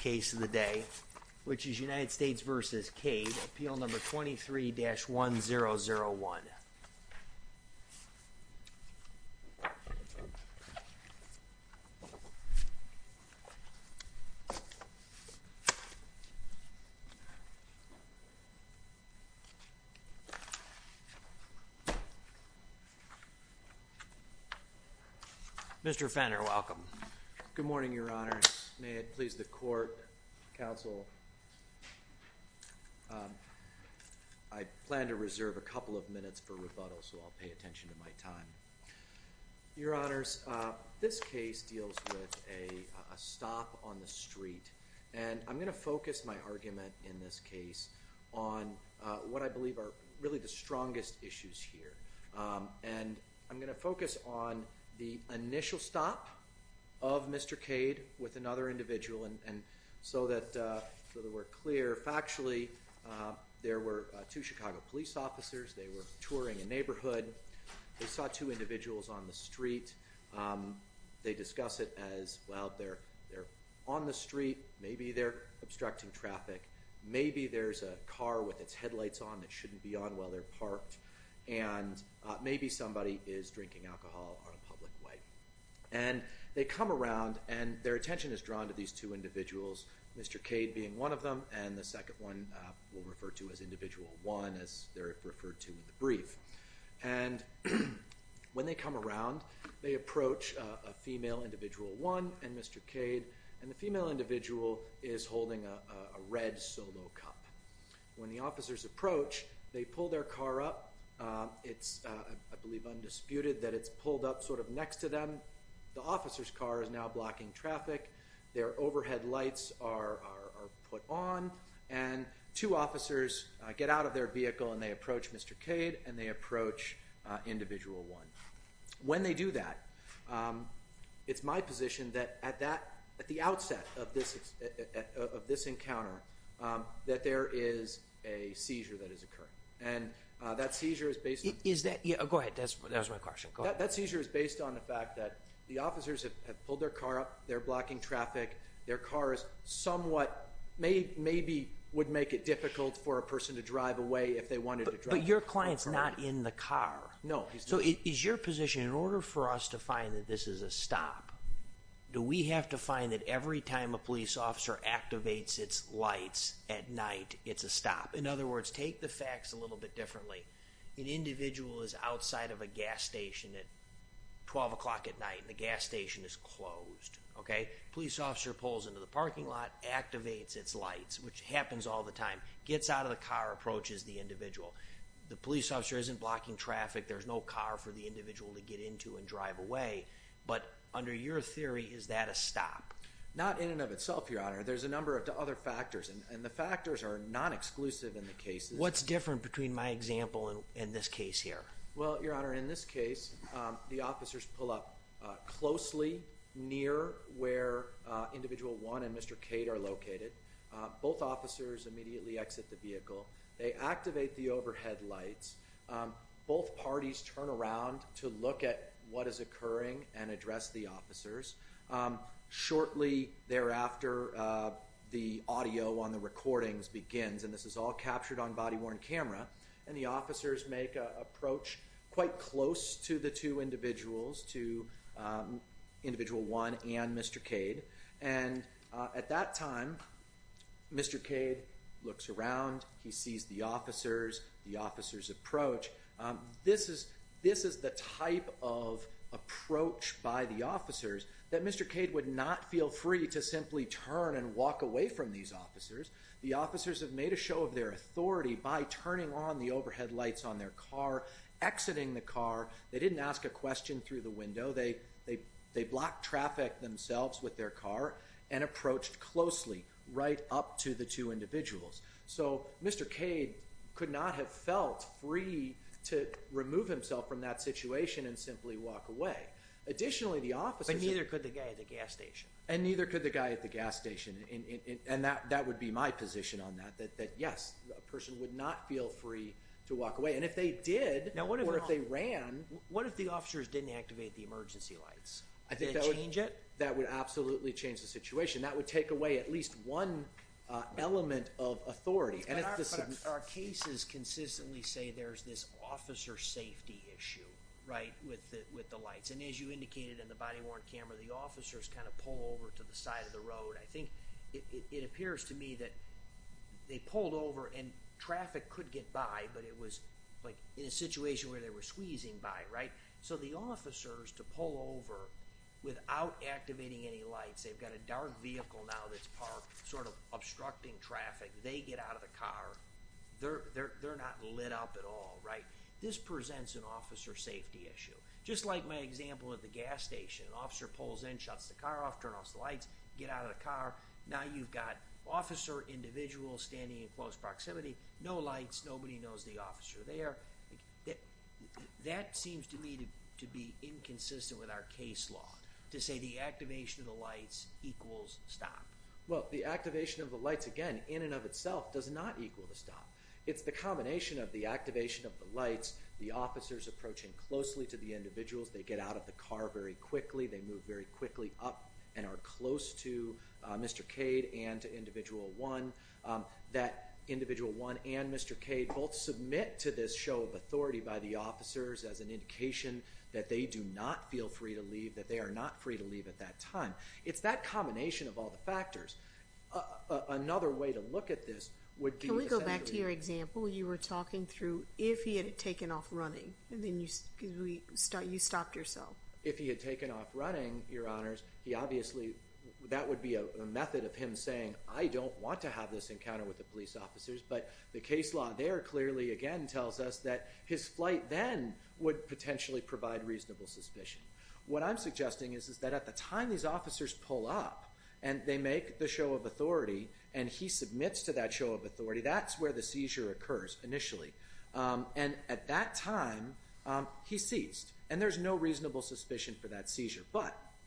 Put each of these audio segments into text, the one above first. case of the day, which is United States v. Cade, appeal number 23-1001. Mr. Fenner, welcome. Good morning, Your Honors. May it please the Court, Counsel. I plan to reserve a couple of minutes for rebuttal, so I'll pay attention to my time. Your Honors, this case deals with a stop on the street, and I'm going to focus my argument in this case on what I believe are really the strongest issues here. And I'm going to focus on the initial stop of Mr. Cade with another individual, so that we're clear. Factually, there were two Chicago police officers. They were touring a neighborhood. They saw two individuals on the street. They discuss it as, well, they're on the street. Maybe they're obstructing traffic. Maybe there's a car with its headlights on that shouldn't be on while they're parked. And maybe somebody is drinking alcohol on a public way. And they come around, and their attention is drawn to these two individuals, Mr. Cade being one of them, and the second one we'll refer to as Individual 1, as they're referred to in the brief. And when they come around, they approach a female Individual 1 and Mr. Cade, and the female individual is holding a red Solo cup. When the officers approach, they pull their car up. It's, I believe, undisputed that it's pulled up sort of next to them. The officer's car is now blocking traffic. Their overhead lights are put on, and two officers get out of their vehicle, and they approach Mr. Cade, and they approach Individual 1. When they do that, it's my position that at that, at the outset of this encounter, that there is a seizure that is occurring. And that seizure is based on... Is that, yeah, go ahead. That was my question. Go ahead. That seizure is based on the fact that the officers have pulled their car up. They're blocking traffic. Their car is somewhat, maybe would make it difficult for a person to drive away if they wanted to drive... But your client's not in the car. No, he's not. So is your position, in order for us to find that this is a stop, do we have to find that every time a police officer activates its lights at night, it's a stop? In other words, take the facts a little bit differently. An individual is outside of a gas station at 12 o'clock at night, and the gas station is closed, okay? Police officer pulls into the parking lot, activates its lights, which happens all the time, gets out of the car, approaches the individual. The individual to get into and drive away. But under your theory, is that a stop? Not in and of itself, Your Honor. There's a number of other factors, and the factors are non-exclusive in the cases. What's different between my example and this case here? Well, Your Honor, in this case, the officers pull up closely near where Individual 1 and Mr. Cade are located. Both officers immediately exit the vehicle. They activate the overhead lights. Both parties turn around to look at what is occurring and address the officers. Shortly thereafter, the audio on the recordings begins, and this is all captured on body-worn camera. And the officers make an approach quite close to the two individuals, to Individual 1 and Mr. Cade. And at that time, Mr. Cade looks around, he sees the officers, the officers approach. This is the type of approach by the officers that Mr. Cade would not feel free to simply turn and walk away from these officers. The officers have made a show of their authority by turning on the overhead lights on their car, exiting the car. They didn't ask a question through the window. They blocked traffic themselves with their car and approached closely, right up to the two individuals. So, Mr. Cade could not have felt free to remove himself from that situation and simply walk away. Additionally, the officers... But neither could the guy at the gas station. And neither could the guy at the gas station. And that would be my position on that, that yes, a person would not feel free to walk away. And if they did, or if they ran... What if the officers didn't activate the emergency lights? That would absolutely change the situation. That would take away at least one element of authority. But our cases consistently say there's this officer safety issue, right, with the lights. And as you indicated in the body-worn camera, the officers kind of pull over to the side of the road. I think it appears to me that they pulled over and traffic could get by, but it was like in a situation where they were squeezing by, right? So the officers to pull over without activating any lights. They've got a dark vehicle now that's parked, sort of obstructing traffic. They get out of the car. They're not lit up at all, right? This presents an officer safety issue. Just like my example at the gas station. An officer pulls in, shuts the car off, turn off the lights, get out of the car. Now you've got officer, individual standing in close proximity, no lights, nobody knows the officer there. That seems to me to be inconsistent with our case law, to say the activation of the lights equals stop. Well, the activation of the lights, again, in and of itself does not equal the stop. It's the combination of the activation of the lights, the officers approaching closely to the individuals. They get out of the car very quickly. They move very quickly up and are close to Mr. Cade and to Individual 1. That Individual 1 and Mr. Cade both submit to this show of authority by the officers as an indication that they do not feel free to leave, that they are not free to leave at that time. It's that combination of all the factors. Another way to look at this would be... Can we go back to your example? You were talking through if he had taken off running, then you stopped yourself. If he had taken off running, Your Honors, he obviously, that would be a method of him saying, I don't want to have this encounter with the police officers, but the case law there clearly, again, tells us that his flight then would potentially provide reasonable suspicion. What I'm suggesting is that at the time these officers pull up and they make the show of authority and he submits to that show of authority, that's where the seizure occurs initially. At that time, he ceased, and there's no reasonable suspicion for that seizure.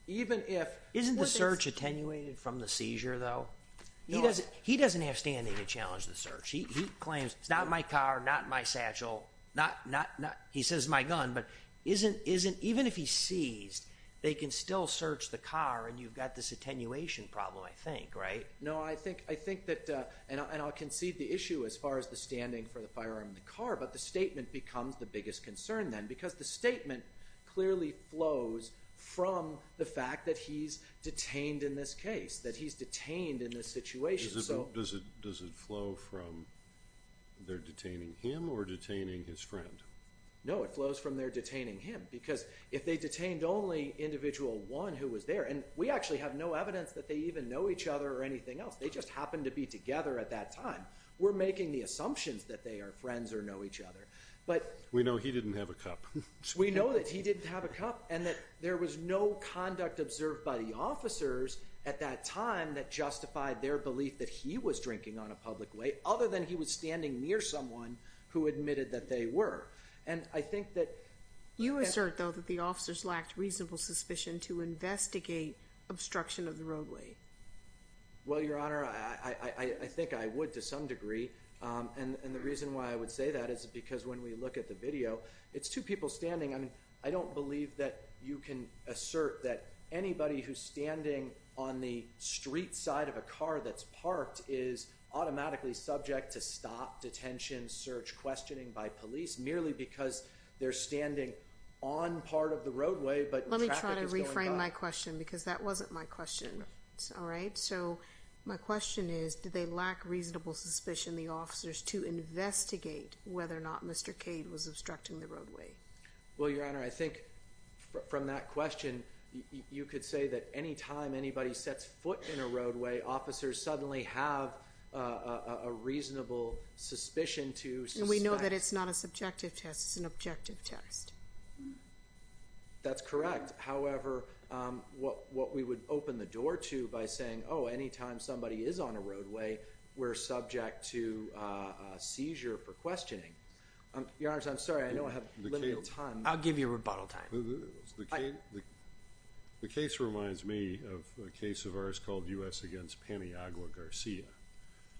Isn't the search attenuated from the seizure, though? He doesn't have standing to challenge the search. He claims, it's not my car, not my satchel, he says it's my gun, but even if he's seized, they can still search the car and you've got this attenuation problem, I think, right? No, I think that, and I'll concede the issue as far as the standing for the firearm in the car, but the statement becomes the biggest concern then because the statement clearly flows from the fact that he's detained in this case, that he's detained in this situation. Does it flow from they're detaining him or detaining his friend? No, it flows from they're detaining him because if they detained only individual one who was there, and we actually have no evidence that they even know each other or anything else, they just happened to be together at that time, we're making the assumptions that they are friends or know each other. We know he didn't have a cup. We know that he didn't have a cup and that there was no conduct observed by the officers at that time that justified their belief that he was drinking on a public way, other than he was standing near someone who admitted that they were, and I think that- You assert though that the officers lacked reasonable suspicion to investigate obstruction of the roadway. Well, Your Honor, I think I would to some degree, and the reason why I would say that is because when we look at the video, it's two people standing. I mean, I don't believe that you can assert that anybody who's standing on the street side of a car that's parked is automatically subject to stop, detention, search, questioning by police merely because they're standing on part of the roadway, but traffic is going by. Let me try to reframe my question because that wasn't my question. All right? So, my question is, did they lack reasonable suspicion, the officers, to investigate whether or not Mr. Cade was obstructing the roadway? Well, Your Honor, I think from that question, you could say that any time anybody sets foot in a roadway, officers suddenly have a reasonable suspicion to suspect- And we know that it's not a subjective test. It's an objective test. That's correct. However, what we would open the door to by saying, oh, any time somebody is on a roadway, we're subject to a seizure for questioning. Your Honor, I'm sorry. I know I have limited time. I'll give you rebuttal time. The case reminds me of a case of ours called U.S. against Paniagua Garcia,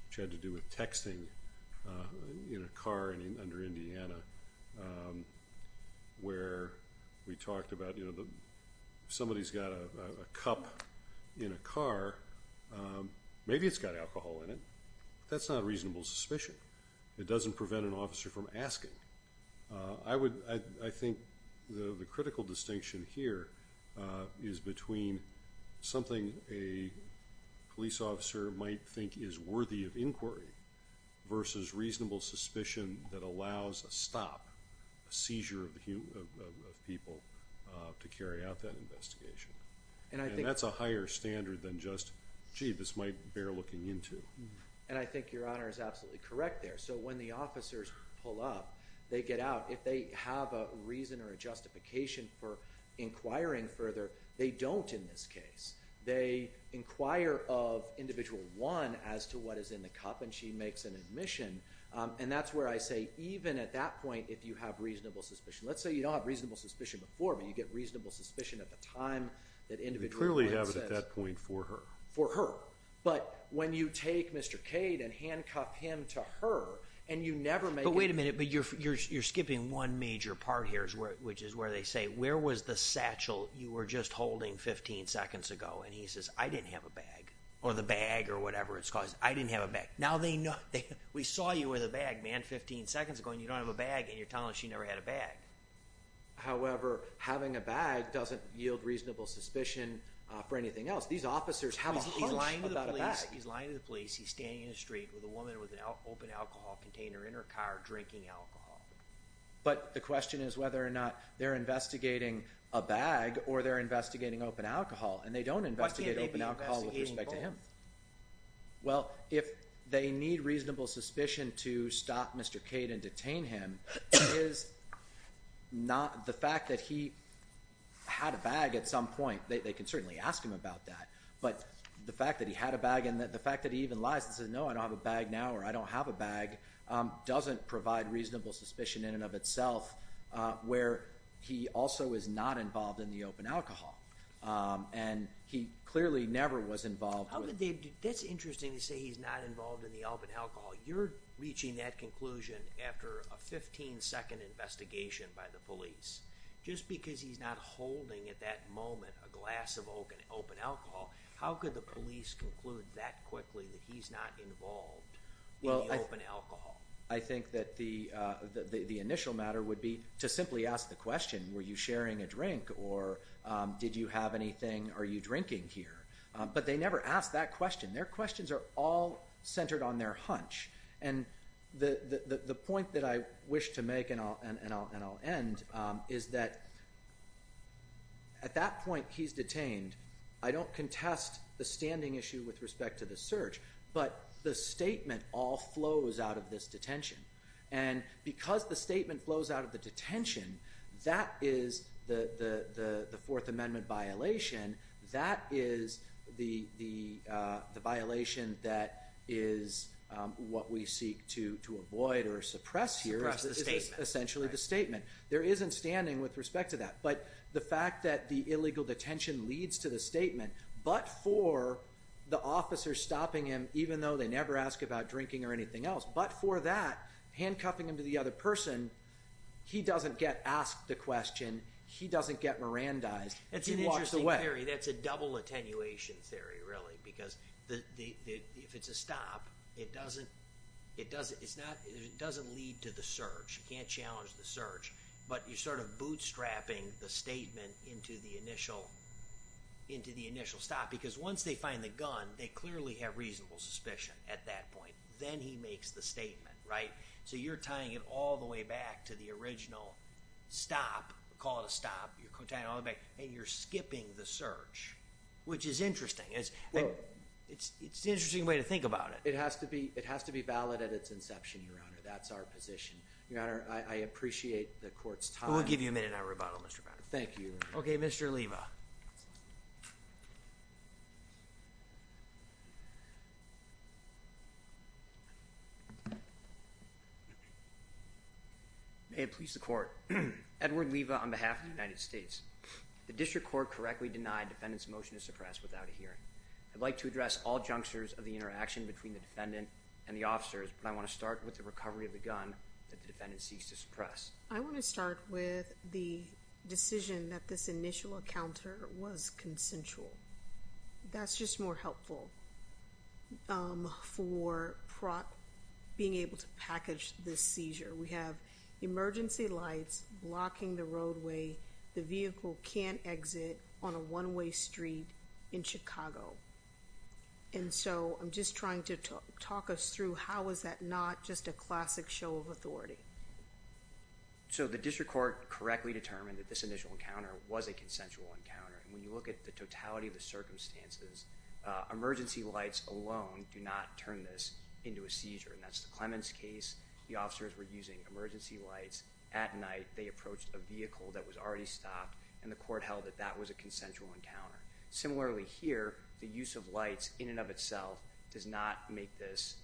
which had to somebody's got a cup in a car, maybe it's got alcohol in it, but that's not a reasonable suspicion. It doesn't prevent an officer from asking. I think the critical distinction here is between something a police officer might think is worthy of inquiry versus reasonable suspicion that allows a stop, a seizure of people to carry out that investigation. And that's a higher standard than just, gee, this might bear looking into. And I think Your Honor is absolutely correct there. So when the officers pull up, they get out. If they have a reason or a justification for inquiring further, they don't in this case. They inquire of individual one as to what is in the cup, and she makes an admission. And that's where I say, even at that point, if you have reasonable suspicion. Let's say you don't have reasonable suspicion before, but you get reasonable suspicion at the time that individual one says. You clearly have it at that point for her. For her. But when you take Mr. Cade and handcuff him to her, and you never make it. But wait a minute. You're skipping one major part here, which is where they say, where was the satchel you were just holding 15 seconds ago? And he says, I didn't have a bag. Or the bag, or whatever it's called. I didn't have a bag. Now they know. We saw you with a bag, man, 15 seconds ago, and you don't have a bag, and you're telling us you never had a bag. However, having a bag doesn't yield reasonable suspicion for anything else. These officers have a hunch about a bag. He's lying to the police. He's lying to the police. He's standing in the street with a woman with an open alcohol container in her car, drinking alcohol. But the question is whether or not they're investigating a bag, or they're investigating open alcohol. And they don't investigate open alcohol with respect to him. Why can't they be investigating both? The suspicion to stop Mr. Cade and detain him is not the fact that he had a bag at some point. They can certainly ask him about that. But the fact that he had a bag, and the fact that he even lies and says, no, I don't have a bag now, or I don't have a bag, doesn't provide reasonable suspicion in and of itself, where he also is not involved in the open alcohol. And he clearly never was involved. That's interesting to say he's not involved in the open alcohol. You're reaching that conclusion after a 15-second investigation by the police. Just because he's not holding at that moment a glass of open alcohol, how could the police conclude that quickly that he's not involved in the open alcohol? I think that the initial matter would be to simply ask the question, were you sharing a drink? Or did you have anything? Are you drinking here? But they never ask that question. Their questions are all centered on their hunch. And the point that I wish to make, and I'll end, is that at that point he's detained. I don't contest the standing issue with respect to the search, but the statement all flows out of this detention. And because the statement flows out of the detention, that is the Fourth Amendment violation. That is the violation that is what we seek to avoid or suppress here. Suppress the statement. Essentially the statement. There isn't standing with respect to that. But the fact that the illegal detention leads to the statement, but for the officer stopping him, even though they never ask about drinking or anything else, but for that, handcuffing him to the other person, he doesn't get asked the question. He doesn't get Mirandized. He walks away. That's an interesting theory. That's a double attenuation theory, really. Because if it's a stop, it doesn't lead to the search. You can't challenge the search. But you're sort of bootstrapping the statement into the initial stop. Because once they find the gun, they clearly have reasonable suspicion at that point. Then he makes the statement, right? So you're tying it all the way back to the original stop. Call it a stop. You're tying it all the way back. And you're skipping the search, which is interesting. It's an interesting way to think about it. It has to be valid at its inception, Your Honor. That's our position. Your Honor, I appreciate the court's time. We'll give you a minute on rebuttal, Mr. Brown. OK, Mr. Leva. May it please the court. Edward Leva on behalf of the United States. The district court correctly denied defendant's motion to suppress without a hearing. I'd like to address all junctures of the interaction between the defendant and the officers, but I want to start with the recovery of the gun that the defendant seeks to suppress. I want to start with the decision that this initial encounter was consensual. That's just more helpful for being able to package this seizure. We have emergency lights blocking the roadway. The vehicle can't exit on a one-way street in Chicago. And so I'm just trying to talk us through how is that not just a classic show of authority. So the district court correctly determined that this initial encounter was a consensual encounter. And when you look at the totality of the circumstances, emergency lights alone do not turn this into a seizure. And that's the Clemens case. The officers were using emergency lights at night. They approached a vehicle that was already stopped, and the court held that that was a consensual encounter. Similarly here, the use of lights in and of itself does not make this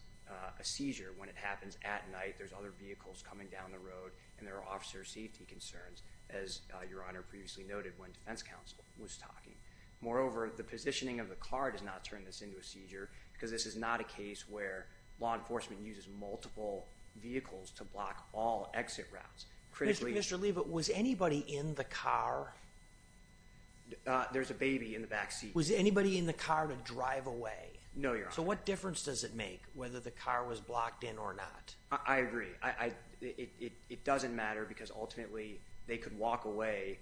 a seizure. When it happens at night, there's other vehicles coming down the road, and there are officer safety concerns, as Your Honor previously noted when defense counsel was talking. Moreover, the positioning of the car does not turn this into a seizure, because this is not a case where law enforcement uses multiple vehicles to block all exit routes. Mr. Lee, but was anybody in the car? There's a baby in the back seat. Was anybody in the car to drive away? No, Your Honor. So what difference does it make whether the car was blocked in or not? I agree. It doesn't matter because ultimately they could walk away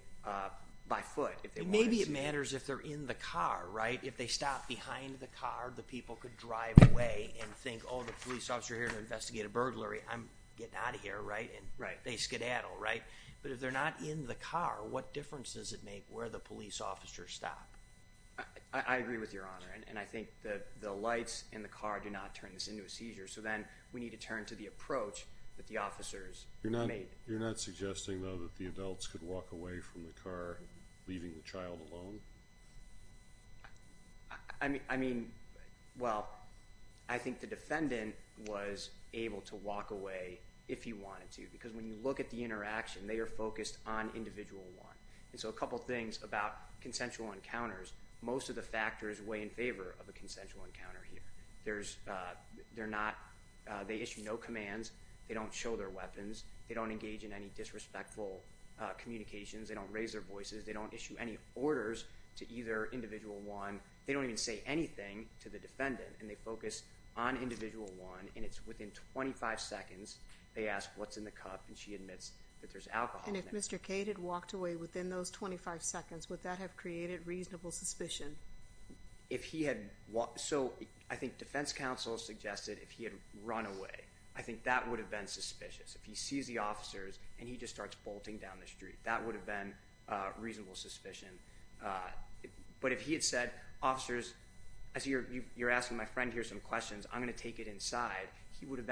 by foot if they wanted to. Maybe it matters if they're in the car, right? If they stop behind the car, the people could drive away and think, oh, the police officer's here to investigate a burglary. I'm getting out of here, right? They skedaddle, right? But if they're not in the car, what difference does it make where the police officers stop? I agree with Your Honor, and I think the lights in the car do not turn this into a seizure. So then we need to turn to the approach that the officers made. You're not suggesting, though, that the adults could walk away from the car, leaving the child alone? I mean, well, I think the defendant was able to walk away if he wanted to because when you look at the interaction, they are focused on individual one. And so a couple things about consensual encounters, most of the factors weigh in favor of a consensual encounter here. They issue no commands. They don't show their weapons. They don't engage in any disrespectful communications. They don't raise their voices. They don't issue any orders to either individual one. They don't even say anything to the defendant. And they focus on individual one, and it's within 25 seconds they ask what's in the cup, and she admits that there's alcohol in there. And if Mr. K had walked away within those 25 seconds, would that have created reasonable suspicion? So I think defense counsel suggested if he had run away. I think that would have been suspicious. If he sees the officers and he just starts bolting down the street, that would have been reasonable suspicion. But if he had said, officers, as you're asking my friend here some questions, I'm going to take it inside, he could have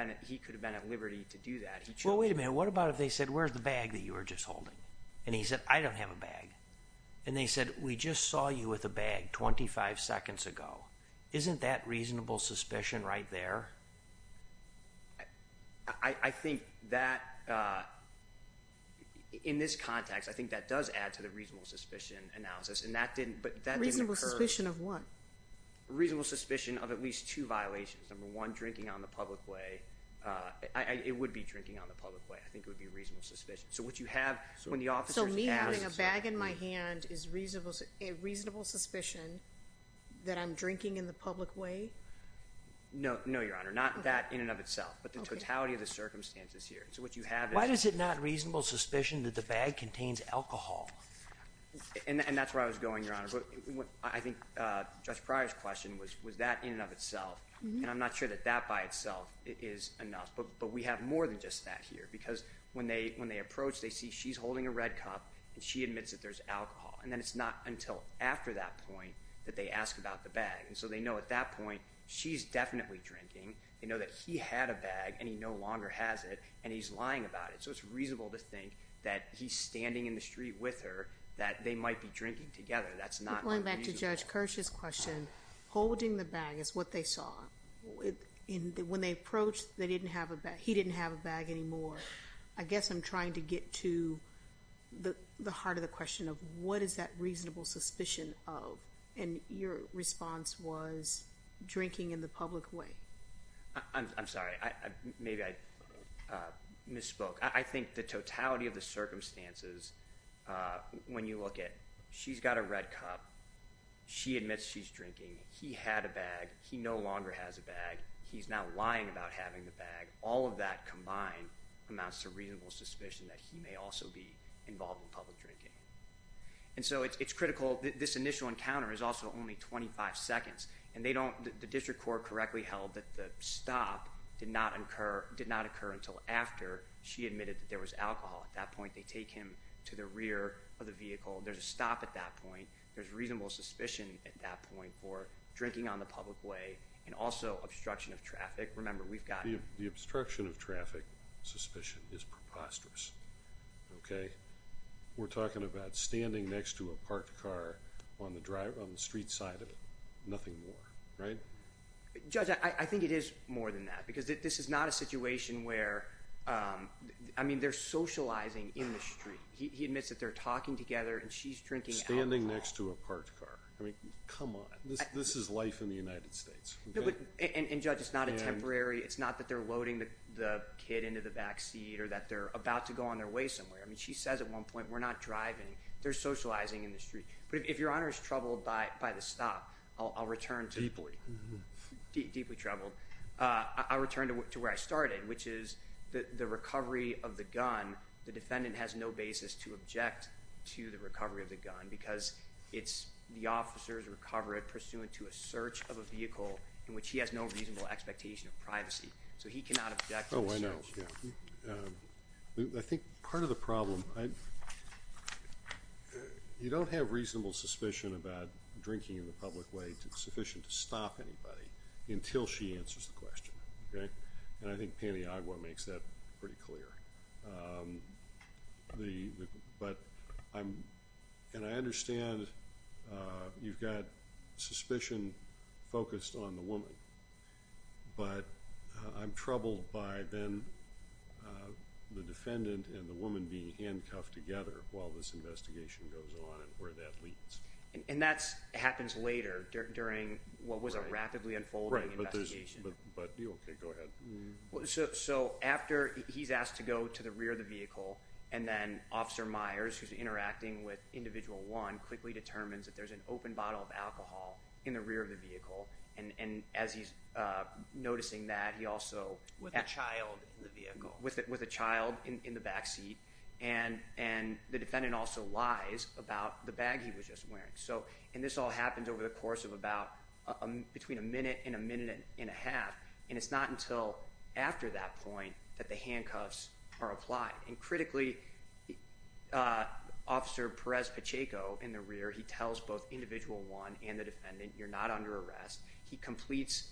been at liberty to do that. Well, wait a minute. What about if they said, where's the bag that you were just holding? And he said, I don't have a bag. And they said, we just saw you with a bag 25 seconds ago. Isn't that reasonable suspicion right there? I think that in this context, I think that does add to the reasonable suspicion analysis. And that didn't occur. Reasonable suspicion of what? Reasonable suspicion of at least two violations. Number one, drinking on the public way. It would be drinking on the public way. I think it would be reasonable suspicion. So what you have when the officers ask. So me having a bag in my hand is reasonable suspicion that I'm drinking in the public way? No, Your Honor. Not that in and of itself. But the totality of the circumstances here. So what you have is. Why is it not reasonable suspicion that the bag contains alcohol? And that's where I was going, Your Honor. I think Judge Pryor's question was that in and of itself. And I'm not sure that that by itself is enough. But we have more than just that here. Because when they approach, they see she's holding a red cup and she admits that there's alcohol. And then it's not until after that point that they ask about the bag. And so they know at that point she's definitely drinking. They know that he had a bag and he no longer has it. And he's lying about it. So it's reasonable to think that he's standing in the street with her. That they might be drinking together. That's not unreasonable. Going back to Judge Kirsch's question. Holding the bag is what they saw. When they approached, they didn't have a bag. He didn't have a bag anymore. I guess I'm trying to get to the heart of the question of what is that reasonable suspicion of? And your response was drinking in the public way. I'm sorry. Maybe I misspoke. I think the totality of the circumstances, when you look at she's got a red cup, she admits she's drinking. He had a bag. He no longer has a bag. He's now lying about having the bag. All of that combined amounts to reasonable suspicion that he may also be involved in public drinking. And so it's critical. This initial encounter is also only 25 seconds. And the district court correctly held that the stop did not occur until after she admitted that there was alcohol at that point. They take him to the rear of the vehicle. There's a stop at that point. There's reasonable suspicion at that point for drinking on the public way and also obstruction of traffic. Remember, we've got... The obstruction of traffic suspicion is preposterous. Okay? We're talking about standing next to a parked car on the street side of nothing more, right? Judge, I think it is more than that because this is not a situation where, I mean, they're socializing in the street. He admits that they're talking together and she's drinking alcohol. Standing next to a parked car. I mean, come on. This is life in the United States. And, Judge, it's not a temporary... It's not that they're loading the kid into the back seat or that they're about to go on their way somewhere. I mean, she says at one point, we're not driving. They're socializing in the street. But if Your Honor is troubled by the stop, I'll return to... Deeply. Deeply troubled. I'll return to where I started, which is the recovery of the gun. The defendant has no basis to object to the recovery of the gun because it's the officer's recovery pursuant to a search of a vehicle in which he has no reasonable expectation of privacy. So he cannot object to the search. Oh, I know. I think part of the problem... You don't have reasonable suspicion about drinking in the public way sufficient to stop anybody until she answers the question, okay? And I think Paniagua makes that pretty clear. But I'm... And I understand you've got suspicion focused on the woman. But I'm troubled by then the defendant and the woman being handcuffed together while this investigation goes on and where that leads. And that happens later during what was a rapidly unfolding investigation. Right, but there's... But... Okay, go ahead. So after he's asked to go to the rear of the vehicle and then Officer Myers, who's interacting with Individual 1, quickly determines that there's an open bottle of alcohol in the rear of the vehicle. And as he's noticing that, he also... With a child in the vehicle. With a child in the backseat. And the defendant also lies about the bag he was just wearing. And this all happens over the course of about between a minute and a minute and a half. And it's not until after that point that the handcuffs are applied. And critically, Officer Perez-Pacheco in the rear, he tells both Individual 1 and the defendant, you're not under arrest. He completes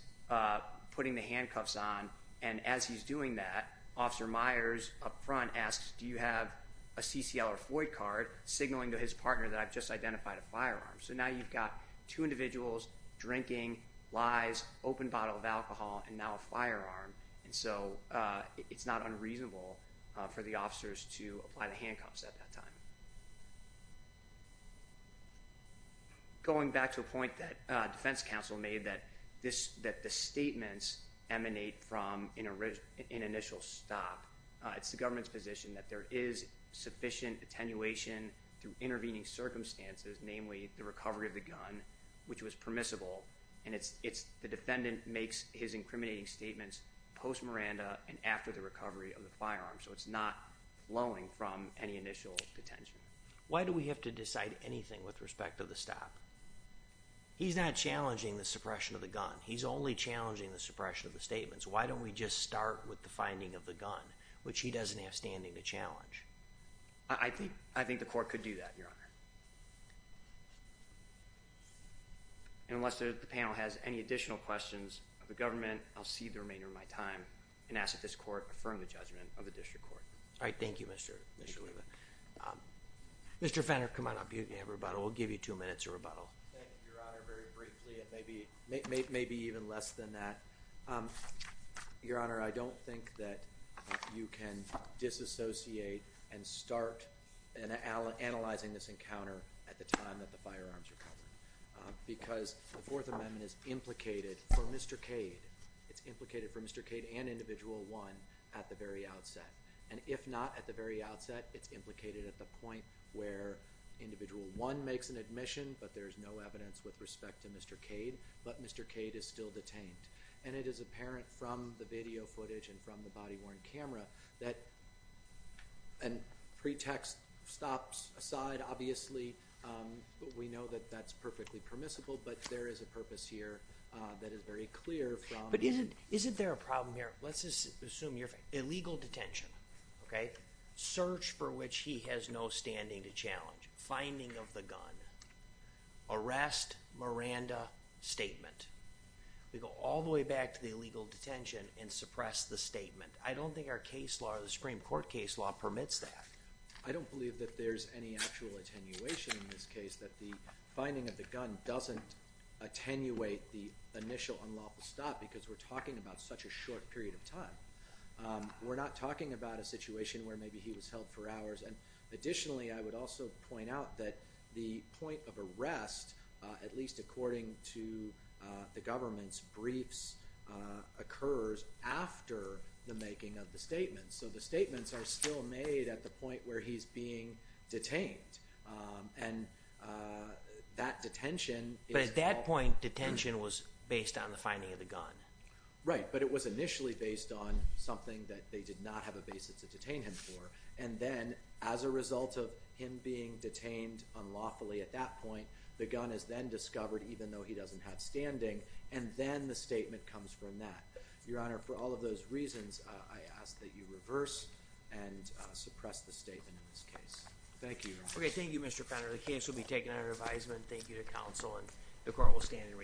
putting the handcuffs on. And as he's doing that, Officer Myers up front asks, do you have a CCL or Floyd card? Signaling to his partner that I've just identified a firearm. So now you've got two individuals drinking, lies, open bottle of alcohol, and now a firearm. And so it's not unreasonable for the officers to apply the handcuffs at that time. Going back to a point that defense counsel made, that the statements emanate from an initial stop. It's the government's position that there is sufficient attenuation through intervening circumstances, namely the recovery of the gun, which was permissible. And the defendant makes his incriminating statements post-Miranda and after the recovery of the firearm. So it's not flowing from any initial detention. Why do we have to decide anything with respect to the stop? He's not challenging the suppression of the gun. He's only challenging the suppression of the statements. Why don't we just start with the finding of the gun, which he doesn't have standing to challenge? I think the court could do that, Your Honor. And unless the panel has any additional questions of the government, I'll cede the remainder of my time and ask that this court affirm the judgment of the district court. All right, thank you, Mr. Levin. Mr. Fenner, come on up. You can have a rebuttal. We'll give you two minutes of rebuttal. Thank you, Your Honor. Very briefly, and maybe even less than that. Your Honor, I don't think that you can disassociate and start analyzing this encounter at the time that the firearms are covered. Because the Fourth Amendment is implicated for Mr. Cade. It's implicated for Mr. Cade and Individual 1 at the very outset. And if not at the very outset, it's implicated at the point where Individual 1 makes an admission, but there's no evidence with respect to Mr. Cade, but Mr. Cade is still detained. And it is apparent from the video footage and from the body-worn camera that a pretext stops aside, obviously. We know that that's perfectly permissible, but there is a purpose here that is very clear. But isn't there a problem here? Let's just assume you're—illegal detention, okay? Search for which he has no standing to challenge. Finding of the gun. Arrest, Miranda, statement. We go all the way back to the illegal detention and suppress the statement. I don't think our case law, the Supreme Court case law, permits that. I don't believe that there's any actual attenuation in this case, that the finding of the gun doesn't attenuate the initial unlawful stop because we're talking about such a short period of time. We're not talking about a situation where maybe he was held for hours. And additionally, I would also point out that the point of arrest, at least according to the government's briefs, occurs after the making of the statement. So the statements are still made at the point where he's being detained. And that detention— But at that point, detention was based on the finding of the gun. Right, but it was initially based on something that they did not have a basis to detain him for. And then as a result of him being detained unlawfully at that point, the gun is then discovered even though he doesn't have standing, and then the statement comes from that. Your Honor, for all of those reasons, I ask that you reverse and suppress the statement in this case. Thank you, Your Honor. Okay, thank you, Mr. Fowler. The case will be taken under advisement. Thank you to counsel, and the court will stand in recess.